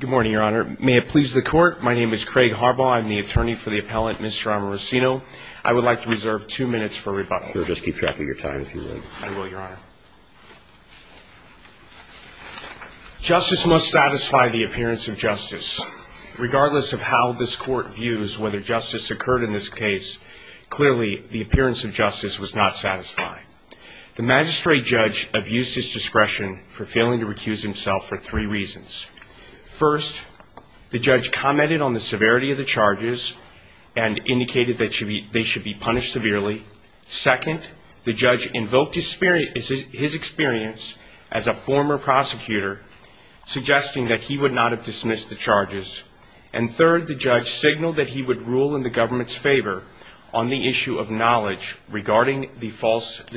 Good morning, Your Honor. May it please the Court, my name is Craig Harbaugh. I'm the attorney for the appellant, Mr. Amorosino. I would like to reserve two minutes for rebuttal. Sure, just keep track of your time if you would. I will, Your Honor. Justice must satisfy the appearance of justice. Regardless of how this Court views whether justice occurred in this case, clearly the appearance of justice was not satisfying. The magistrate judge abused his discretion for failing to recuse himself for three reasons. First, the judge commented on the severity of the charges and indicated that they should be punished severely. Second, the judge invoked his experience as a former prosecutor, suggesting that he would not have dismissed the charges. And third, the judge signaled that he would rule in the government's favor on the issue of knowledge regarding the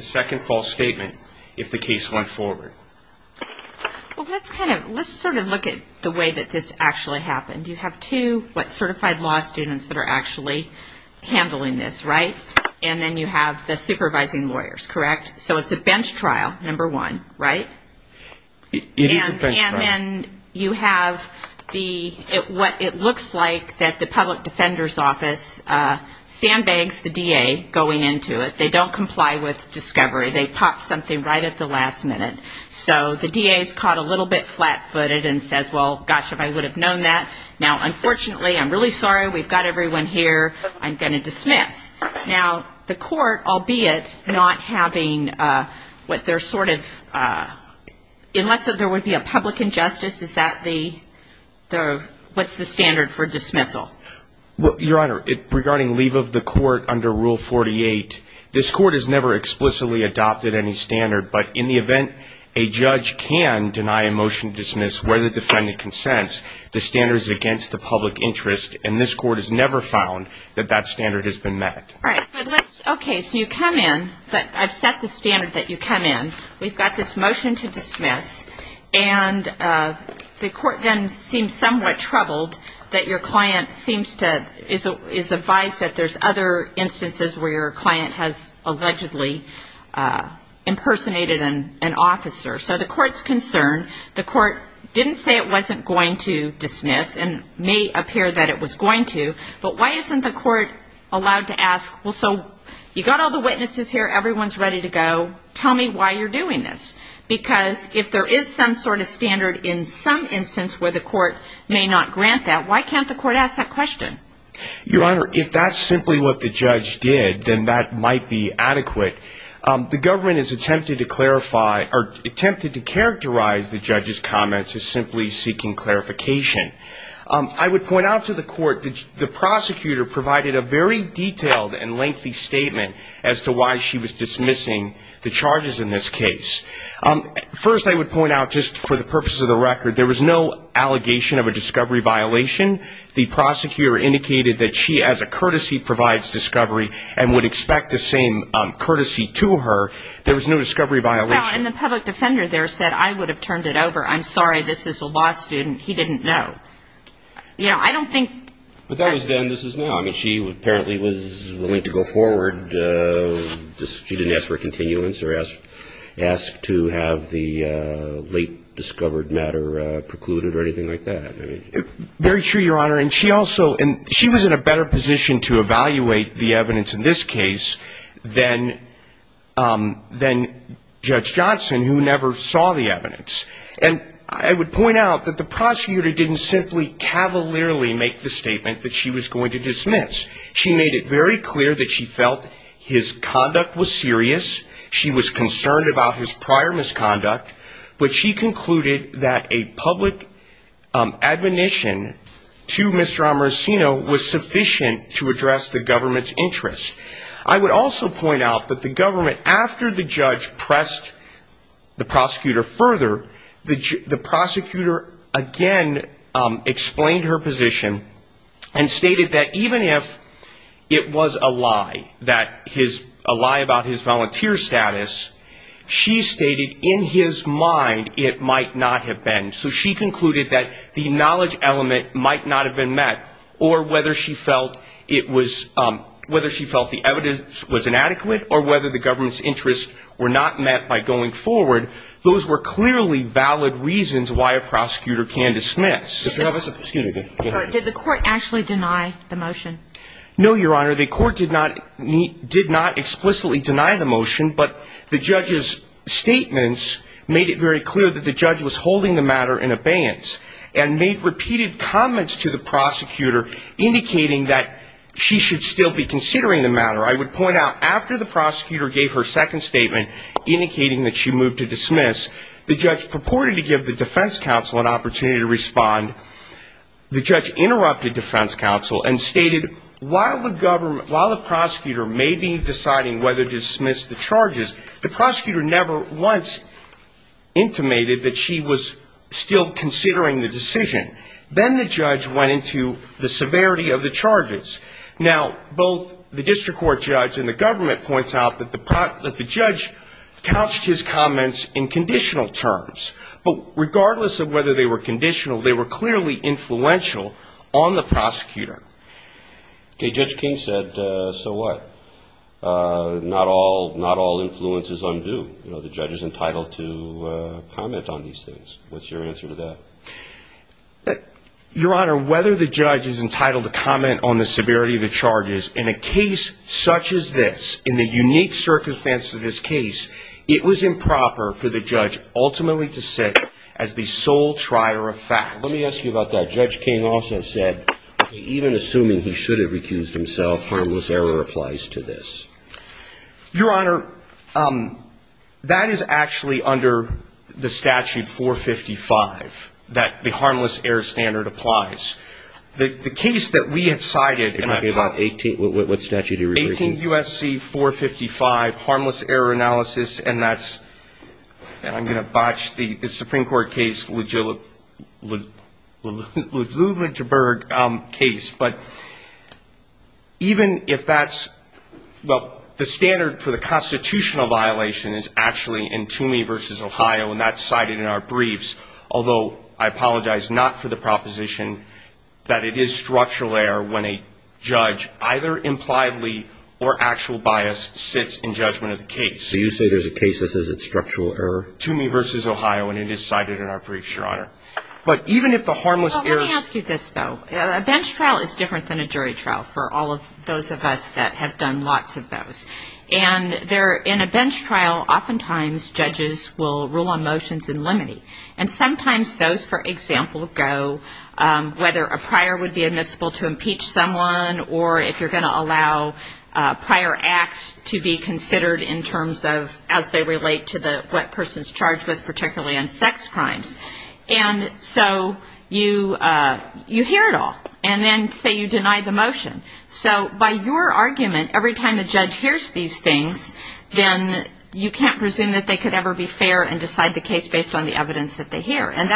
second false statement if the case went forward. Well, let's sort of look at the way that this actually happened. You have two, what, certified law students that are actually handling this, right? And then you have the supervising lawyers, correct? So it's a bench trial, number one, right? It is a bench trial. And then you have the, what it looks like that the public defender's office sandbags the DA going into it. They don't comply with discovery. They pop something right at the last minute. So the DA is caught a little bit flat-footed and says, well, gosh, if I would have known that. Now, unfortunately, I'm really sorry. We've got everyone here. I'm going to dismiss. Now, the court, albeit not having what they're sort of, unless there would be a public injustice, is that the, what's the standard for dismissal? Well, Your Honor, regarding leave of the court under Rule 48, this court has never explicitly adopted any standard. But in the event a judge can deny a motion to dismiss where the defendant consents, the standard is against the public interest. And this court has never found that that standard has been met. All right. Okay. So you come in. I've set the standard that you come in. We've got this motion to dismiss. And the court then seems somewhat troubled that your client seems to, is advised that there's other instances where your client has allegedly impersonated an officer. So the court's concerned. The court didn't say it wasn't going to dismiss and may appear that it was going to. But why isn't the court allowed to ask, well, so you've got all the witnesses here. Everyone's ready to go. Tell me why you're doing this. Because if there is some sort of standard in some instance where the court may not grant that, why can't the court ask that question? Your Honor, if that's simply what the judge did, then that might be adequate. The government has attempted to clarify or attempted to characterize the judge's comments as simply seeking clarification. I would point out to the court that the prosecutor provided a very detailed and lengthy statement as to why she was dismissing the charges in this case. First, I would point out just for the purpose of the record, there was no allegation of a discovery violation. When the prosecutor indicated that she as a courtesy provides discovery and would expect the same courtesy to her, there was no discovery violation. Well, and the public defender there said, I would have turned it over. I'm sorry, this is a law student. He didn't know. You know, I don't think. But that was then, this is now. I mean, she apparently was willing to go forward. She didn't ask for a continuance or ask to have the late discovered matter precluded or anything like that. Very true, Your Honor. And she also, she was in a better position to evaluate the evidence in this case than Judge Johnson, who never saw the evidence. And I would point out that the prosecutor didn't simply cavalierly make the statement that she was going to dismiss. She made it very clear that she felt his conduct was serious. She was concerned about his prior misconduct, but she concluded that a public admonition to Mr. Amarsino was sufficient to address the government's interest. I would also point out that the government, after the judge pressed the prosecutor further, the prosecutor again explained her position and stated that even if it was a lie, that his, a lie about his volunteer status, she stated in his mind it might not have been. So she concluded that the knowledge element might not have been met or whether she felt it was, whether she felt the evidence was inadequate or whether the government's interests were not met by going forward. Those were clearly valid reasons why a prosecutor can dismiss. Did the court actually deny the motion? No, Your Honor. The court did not explicitly deny the motion, but the judge's statements made it very clear that the judge was holding the matter in abeyance and made repeated comments to the prosecutor indicating that she should still be considering the matter. I would point out after the prosecutor gave her second statement indicating that she moved to dismiss, the judge purported to give the defense counsel an opportunity to respond. The judge interrupted defense counsel and stated while the government, while the prosecutor may be deciding whether to dismiss the charges, the prosecutor never once intimated that she was still considering the decision. Then the judge went into the severity of the charges. Now, both the district court judge and the government points out that the judge couched his comments in conditional terms. But regardless of whether they were conditional, they were clearly influential on the prosecutor. Okay, Judge King said, so what? Not all influence is undue. The judge is entitled to comment on these things. What's your answer to that? Your Honor, whether the judge is entitled to comment on the severity of the charges in a case such as this, in the unique circumstances of this case, it was improper for the judge ultimately to sit as the sole trier of fact. Let me ask you about that. Judge King also said that even assuming he should have recused himself, harmless error applies to this. Your Honor, that is actually under the statute 455, that the harmless error standard applies. The case that we had cited, and I probably... 17 U.S.C. 455, harmless error analysis, and that's... And I'm going to botch the Supreme Court case, Lujanberg case. But even if that's... Well, the standard for the constitutional violation is actually in Toomey v. Ohio, and that's cited in our briefs. Although I apologize not for the proposition that it is structural error when a judge either impliedly or actual bias sits in judgment of the case. So you say there's a case that says it's structural error? Toomey v. Ohio, and it is cited in our briefs, Your Honor. But even if the harmless error... Well, let me ask you this, though. A bench trial is different than a jury trial, for all of those of us that have done lots of those. And in a bench trial, oftentimes judges will rule on motions in limine. And sometimes those, for example, go whether a prior would be admissible to impeach someone or if you're going to allow prior acts to be considered in terms of as they relate to what person's charged with, particularly on sex crimes. And so you hear it all. And then, say, you deny the motion. So by your argument, every time the judge hears these things, then you can't presume that they could ever be fair and decide the case based on the evidence that they hear. And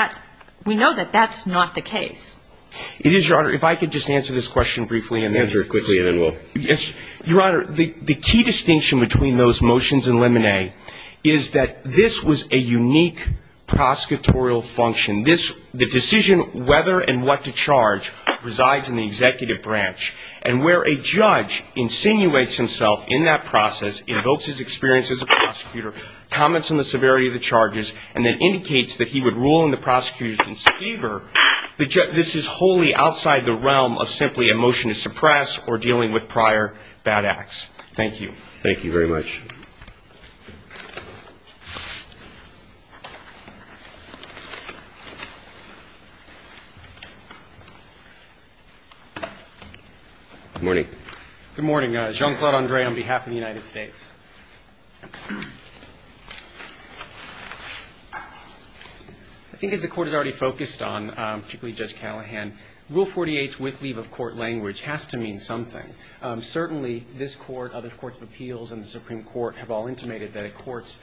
we know that that's not the case. It is, Your Honor. If I could just answer this question briefly. Answer it quickly and then we'll... Your Honor, the key distinction between those motions in limine is that this was a unique prosecutorial function. The decision whether and what to charge resides in the executive branch. And where a judge insinuates himself in that process, invokes his experience as a prosecutor, comments on the severity of the charges, and then indicates that he would rule in the prosecution's favor, this is wholly outside the realm of simply a motion to suppress or dealing with prior bad acts. Thank you. Thank you very much. Good morning. Good morning. Jean-Claude Andre on behalf of the United States. I think as the Court has already focused on, particularly Judge Callahan, Rule 48's with leave of court language has to mean something. Certainly this Court, other courts of appeals and the Supreme Court have all intimated that a court's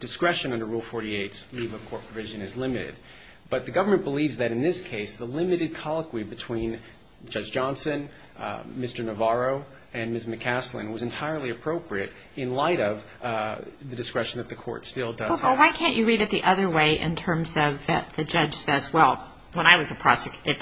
discretion under Rule 48's leave of court provision is limited. But the government believes that in this case the limited colloquy between Judge Johnson, Mr. Navarro, and Ms. McCaslin was entirely appropriate in light of the discretion that the court still does have. Well, why can't you read it the other way in terms of that the judge says, well, when I was a prosecutor,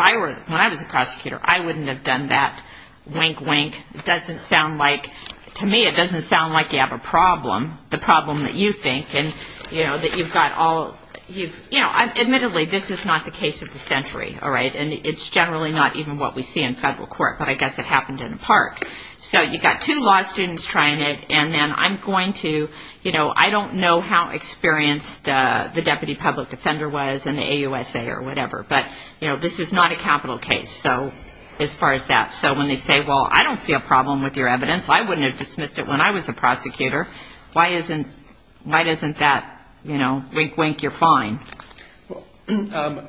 I wouldn't have done that, wink, wink. It doesn't sound like, to me it doesn't sound like you have a problem, the problem that you think, and, you know, that you've got all, you've, you know, admittedly this is not the case of the century, all right, and it's generally not even what we see in federal court, but I guess it happened in a park. So you've got two law students trying it, and then I'm going to, you know, I don't know how experienced the deputy public defender was in the AUSA or whatever, but, you know, this is not a capital case, so as far as that. So when they say, well, I don't see a problem with your evidence. I wouldn't have dismissed it when I was a prosecutor. Why isn't that, you know, wink, wink, you're fine? Well,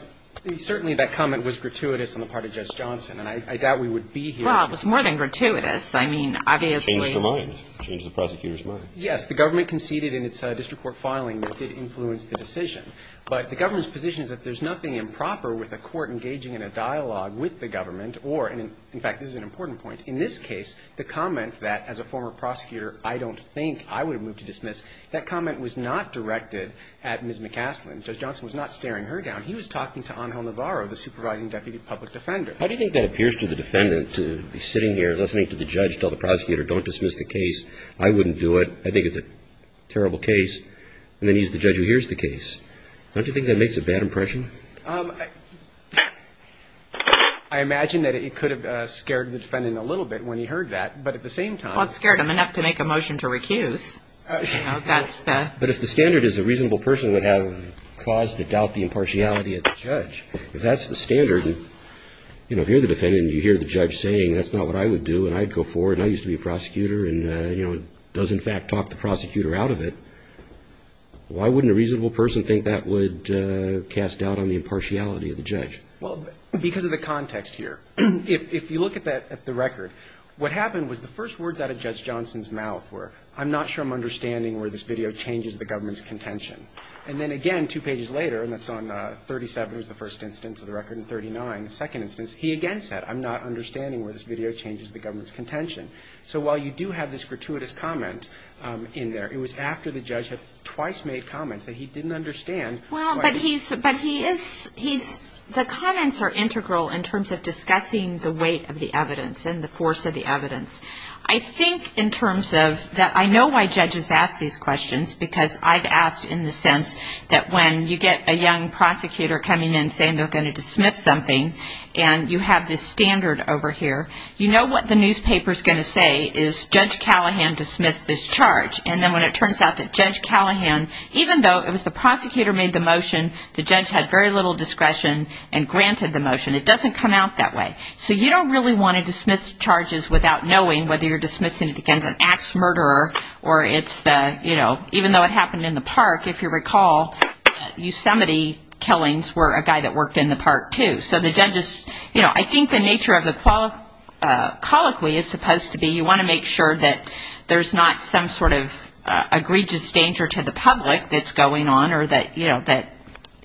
certainly that comment was gratuitous on the part of Judge Johnson, and I doubt we would be here. Well, it was more than gratuitous. I mean, obviously. Changed her mind. Changed the prosecutor's mind. Yes, the government conceded in its district court filing that it influenced the decision. But the government's position is that there's nothing improper with a court engaging in a dialogue with the government or, in fact, this is an important point, in this case, the comment that as a former prosecutor I don't think I would have moved to dismiss, that comment was not directed at Ms. McCasland. Judge Johnson was not staring her down. He was talking to Angel Navarro, the supervising deputy public defender. How do you think that appears to the defendant to be sitting here listening to the judge tell the prosecutor don't dismiss the case, I wouldn't do it, I think it's a terrible case, and then he's the judge who hears the case. Don't you think that makes a bad impression? I imagine that it could have scared the defendant a little bit when he heard that, but at the same time. Well, it scared him enough to make a motion to recuse. But if the standard is a reasonable person would have cause to doubt the impartiality of the judge, if that's the standard, you know, if you're the defendant and you hear the judge saying that's not what I would do and I'd go forward and I used to be a prosecutor and, you know, does in fact talk the prosecutor out of it, why wouldn't a reasonable person think that would cast doubt on the impartiality of the judge? Well, because of the context here. If you look at the record, what happened was the first words out of Judge Johnson's mouth were, I'm not sure I'm understanding where this video changes the government's contention. And then again, two pages later, and that's on 37 was the first instance of the record and 39, the second instance, he again said, I'm not understanding where this video changes the government's contention. So while you do have this gratuitous comment in there, it was after the judge had twice made comments that he didn't understand. Well, but he's, but he is, he's, the comments are integral in terms of discussing the weight of the evidence and the force of the evidence. I think in terms of that I know why judges ask these questions because I've asked in the sense that when you get a young prosecutor coming in saying they're going to dismiss something and you have this standard over here, you know what the newspaper's going to say is Judge Callahan dismissed this charge. And then when it turns out that Judge Callahan, even though it was the prosecutor made the motion, the judge had very little discretion and granted the motion. It doesn't come out that way. So you don't really want to dismiss charges without knowing whether you're dismissing it against an ax murderer or it's the, you know, even though it happened in the park, if you recall, Yosemite killings were a guy that worked in the park, too. So the judges, you know, I think the nature of the colloquy is supposed to be you want to make sure that there's not some sort of egregious danger to the public that's going on or that, you know, that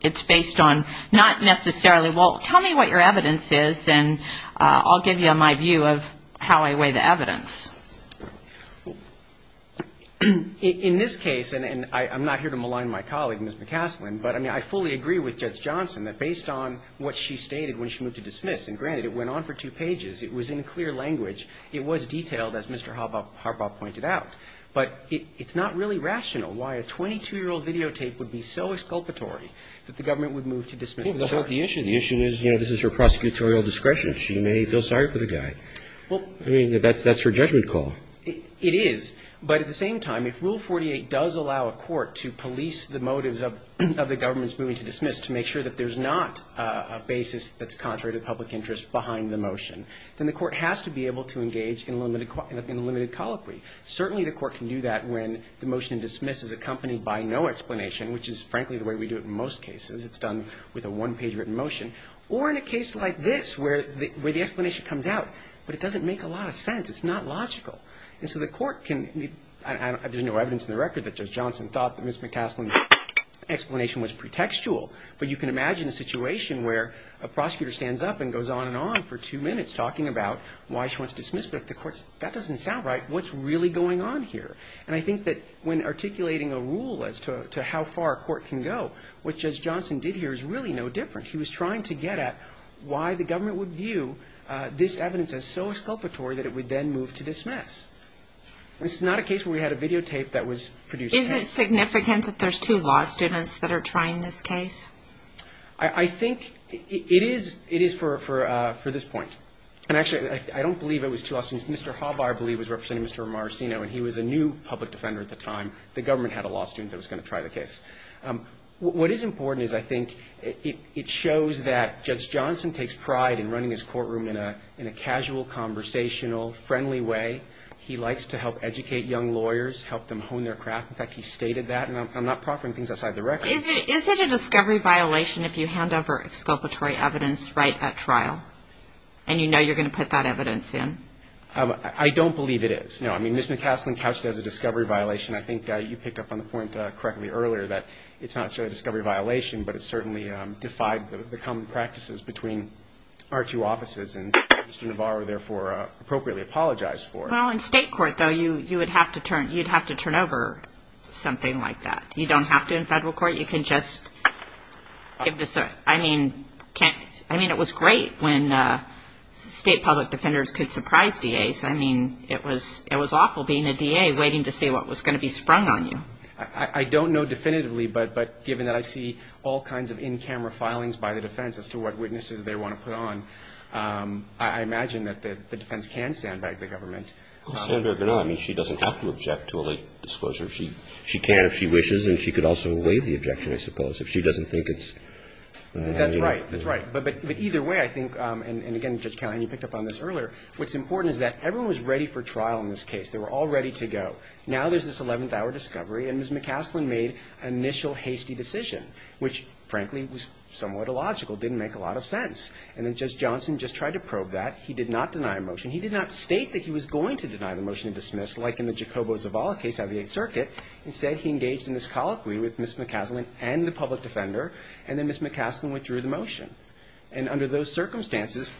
it's based on not necessarily, well, tell me what your evidence is and I'll give you my view of how I weigh the evidence. In this case, and I'm not here to malign my colleague, Ms. McCaslin, but, I mean, I fully agree with Judge Johnson that based on what she stated when she moved to dismiss, and granted it went on for two pages, it was in clear language, it was detailed as Mr. Harbaugh pointed out. But it's not really rational why a 22-year-old videotape would be so exculpatory that the government would move to dismiss charges. Well, the issue, the issue is, you know, this is her prosecutorial discretion. She may feel sorry for the guy. Well, I mean, that's her judgment. It is. But at the same time, if Rule 48 does allow a court to police the motives of the government's moving to dismiss to make sure that there's not a basis that's contrary to public interest behind the motion, then the court has to be able to engage in limited colloquy. Certainly the court can do that when the motion to dismiss is accompanied by no explanation, which is, frankly, the way we do it in most cases. It's done with a one-page written motion. Or in a case like this where the explanation comes out, but it doesn't make a lot of sense. It's not logical. And so the court can, I mean, there's no evidence in the record that Judge Johnson thought that Ms. McCaslin's explanation was pretextual. But you can imagine a situation where a prosecutor stands up and goes on and on for two minutes talking about why she wants to dismiss. But if the court says, that doesn't sound right, what's really going on here? And I think that when articulating a rule as to how far a court can go, what Judge Johnson did here is really no different. He was trying to get at why the government would view this evidence as so exculpatory that it would then move to dismiss. This is not a case where we had a videotape that was produced. Is it significant that there's two law students that are trying this case? I think it is for this point. And actually, I don't believe it was two law students. Mr. Hawbar, I believe, was representing Mr. Maracino, and he was a new public defender at the time. The government had a law student that was going to try the case. What is important is, I think, it shows that Judge Johnson takes pride in running his courtroom in a casual, conversational, friendly way. He likes to help educate young lawyers, help them hone their craft. In fact, he stated that, and I'm not proffering things outside the record. Is it a discovery violation if you hand over exculpatory evidence right at trial and you know you're going to put that evidence in? I don't believe it is, no. I mean, Ms. McCaslin couched it as a discovery violation. I think you picked up on the point correctly earlier that it's not necessarily a discovery violation, but it certainly defied the common practices between our two offices, and Mr. Hawbar, therefore, appropriately apologized for it. Well, in state court, though, you would have to turn over something like that. You don't have to in federal court. You can just give the cert. I mean, it was great when state public defenders could surprise DAs. I mean, it was awful being a DA waiting to see what was going to be sprung on you. I don't know definitively, but given that I see all kinds of in-camera filings by the defense as to what witnesses they want to put on, I imagine that the defense can stand back the government. I mean, she doesn't have to object to a late disclosure. She can if she wishes, and she could also waive the objection, I suppose, if she doesn't think it's. That's right. That's right. But either way, I think, and again, Judge Callahan, you picked up on this earlier, what's important is that everyone was ready for trial in this case. They were all ready to go. Now there's this eleventh-hour discovery, and Ms. McCaslin made an initial hasty decision, which, frankly, was somewhat illogical, didn't make a lot of sense. And then Judge Johnson just tried to probe that. He did not deny a motion. He did not state that he was going to deny the motion and dismiss, like in the Jacobo Zavala case out of the Eighth Circuit. Instead, he engaged in this colloquy with Ms. McCaslin and the public defender, and then Ms. McCaslin withdrew the motion. And under those circumstances,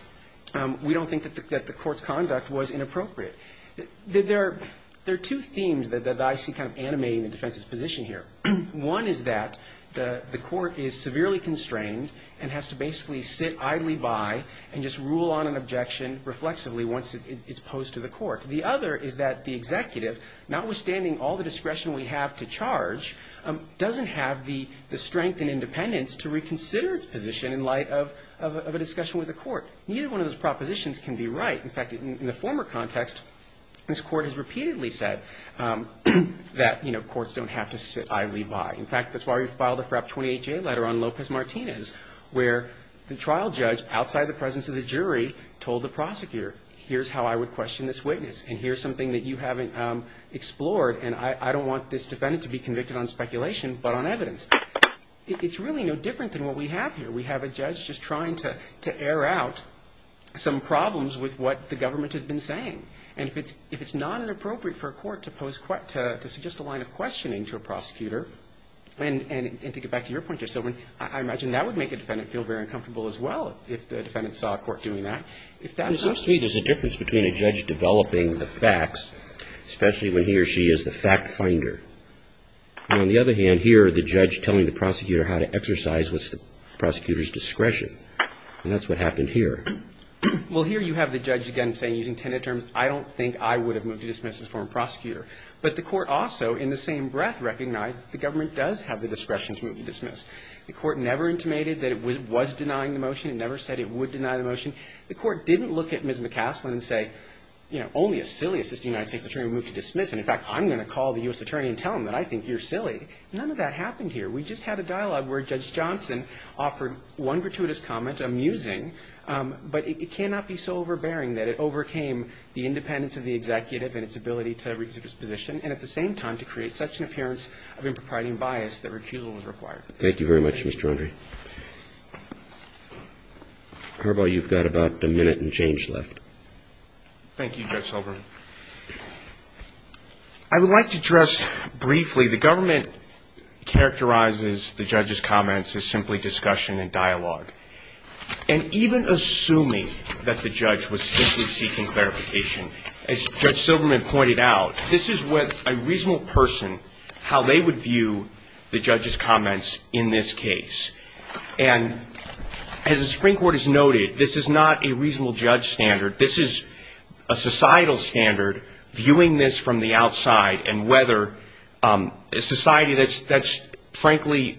we don't think that the Court's conduct was inappropriate. There are two themes that I see kind of animating the defense's position here. One is that the Court is severely constrained and has to basically sit idly by and just rule on an objection reflexively once it's posed to the Court. The other is that the executive, notwithstanding all the discretion we have to charge, doesn't have the strength and independence to reconsider its position in light of a discussion with the Court. Neither one of those propositions can be right. In fact, in the former context, this Court has repeatedly said that, you know, courts don't have to sit idly by. In fact, that's why we filed a FRAP 28-J letter on Lopez Martinez where the trial judge, outside the presence of the jury, told the prosecutor, here's how I would question this witness and here's something that you haven't explored and I don't want this defendant to be convicted on speculation but on evidence. It's really no different than what we have here. We have a judge just trying to air out some problems with what the government has been saying. And if it's not inappropriate for a court to suggest a line of questioning to a prosecutor, and to get back to your point, Judge Silverman, I imagine that would make a defendant feel very uncomfortable as well if the defendant saw a court doing that. It seems to me there's a difference between a judge developing the facts, especially when he or she is the fact finder, and on the other hand, I don't hear the judge telling the prosecutor how to exercise the prosecutor's discretion. And that's what happened here. Well, here you have the judge again saying, using tenet terms, I don't think I would have moved to dismiss as former prosecutor. But the court also, in the same breath, recognized that the government does have the discretion to move to dismiss. The court never intimated that it was denying the motion. It never said it would deny the motion. The court didn't look at Ms. McCaslin and say, you know, only a silly assistant United States attorney would move to dismiss. And in fact, I'm going to call the U.S. attorney and tell him that I think you're silly. None of that happened here. We just had a dialogue where Judge Johnson offered one gratuitous comment, amusing, but it cannot be so overbearing that it overcame the independence of the executive and its ability to reconsider its position, and at the same time to create such an appearance of impropriety and bias that recusal was required. Thank you very much, Mr. Andre. Harbaugh, you've got about a minute and change left. Thank you, Judge Silverman. I would like to address briefly the government characterizes the judge's comments as simply discussion and dialogue. And even assuming that the judge was simply seeking clarification, as Judge Silverman pointed out, this is what a reasonable person, how they would view the judge's comments in this case. And as the Supreme Court has noted, this is not a reasonable judge standard. This is a societal standard, viewing this from the outside, and whether a society that's, frankly,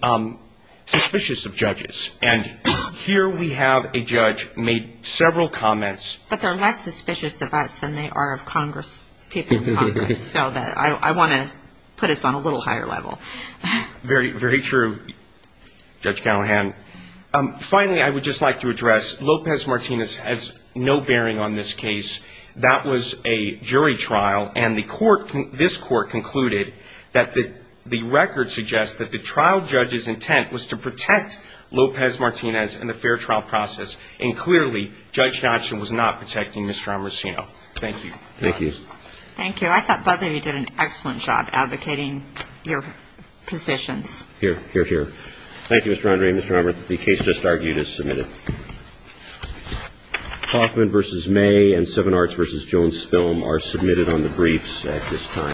suspicious of judges. And here we have a judge made several comments. But they're less suspicious of us than they are of Congress, people in Congress. So I want to put us on a little higher level. Very true, Judge Callahan. Finally, I would just like to address Lopez Martinez has no bearing on this case. That was a jury trial. And the court, this court, concluded that the record suggests that the trial judge's intent was to protect Lopez Martinez and the fair trial process. And clearly, Judge Hodgson was not protecting Mr. Armacino. Thank you. Thank you. Thank you. I thought both of you did an excellent job advocating your positions. Here, here, here. Thank you, Mr. Andre. Mr. Armacino, the case just argued is submitted. Hoffman v. May and Seven Arts v. Jones Film are submitted on the briefs at this time.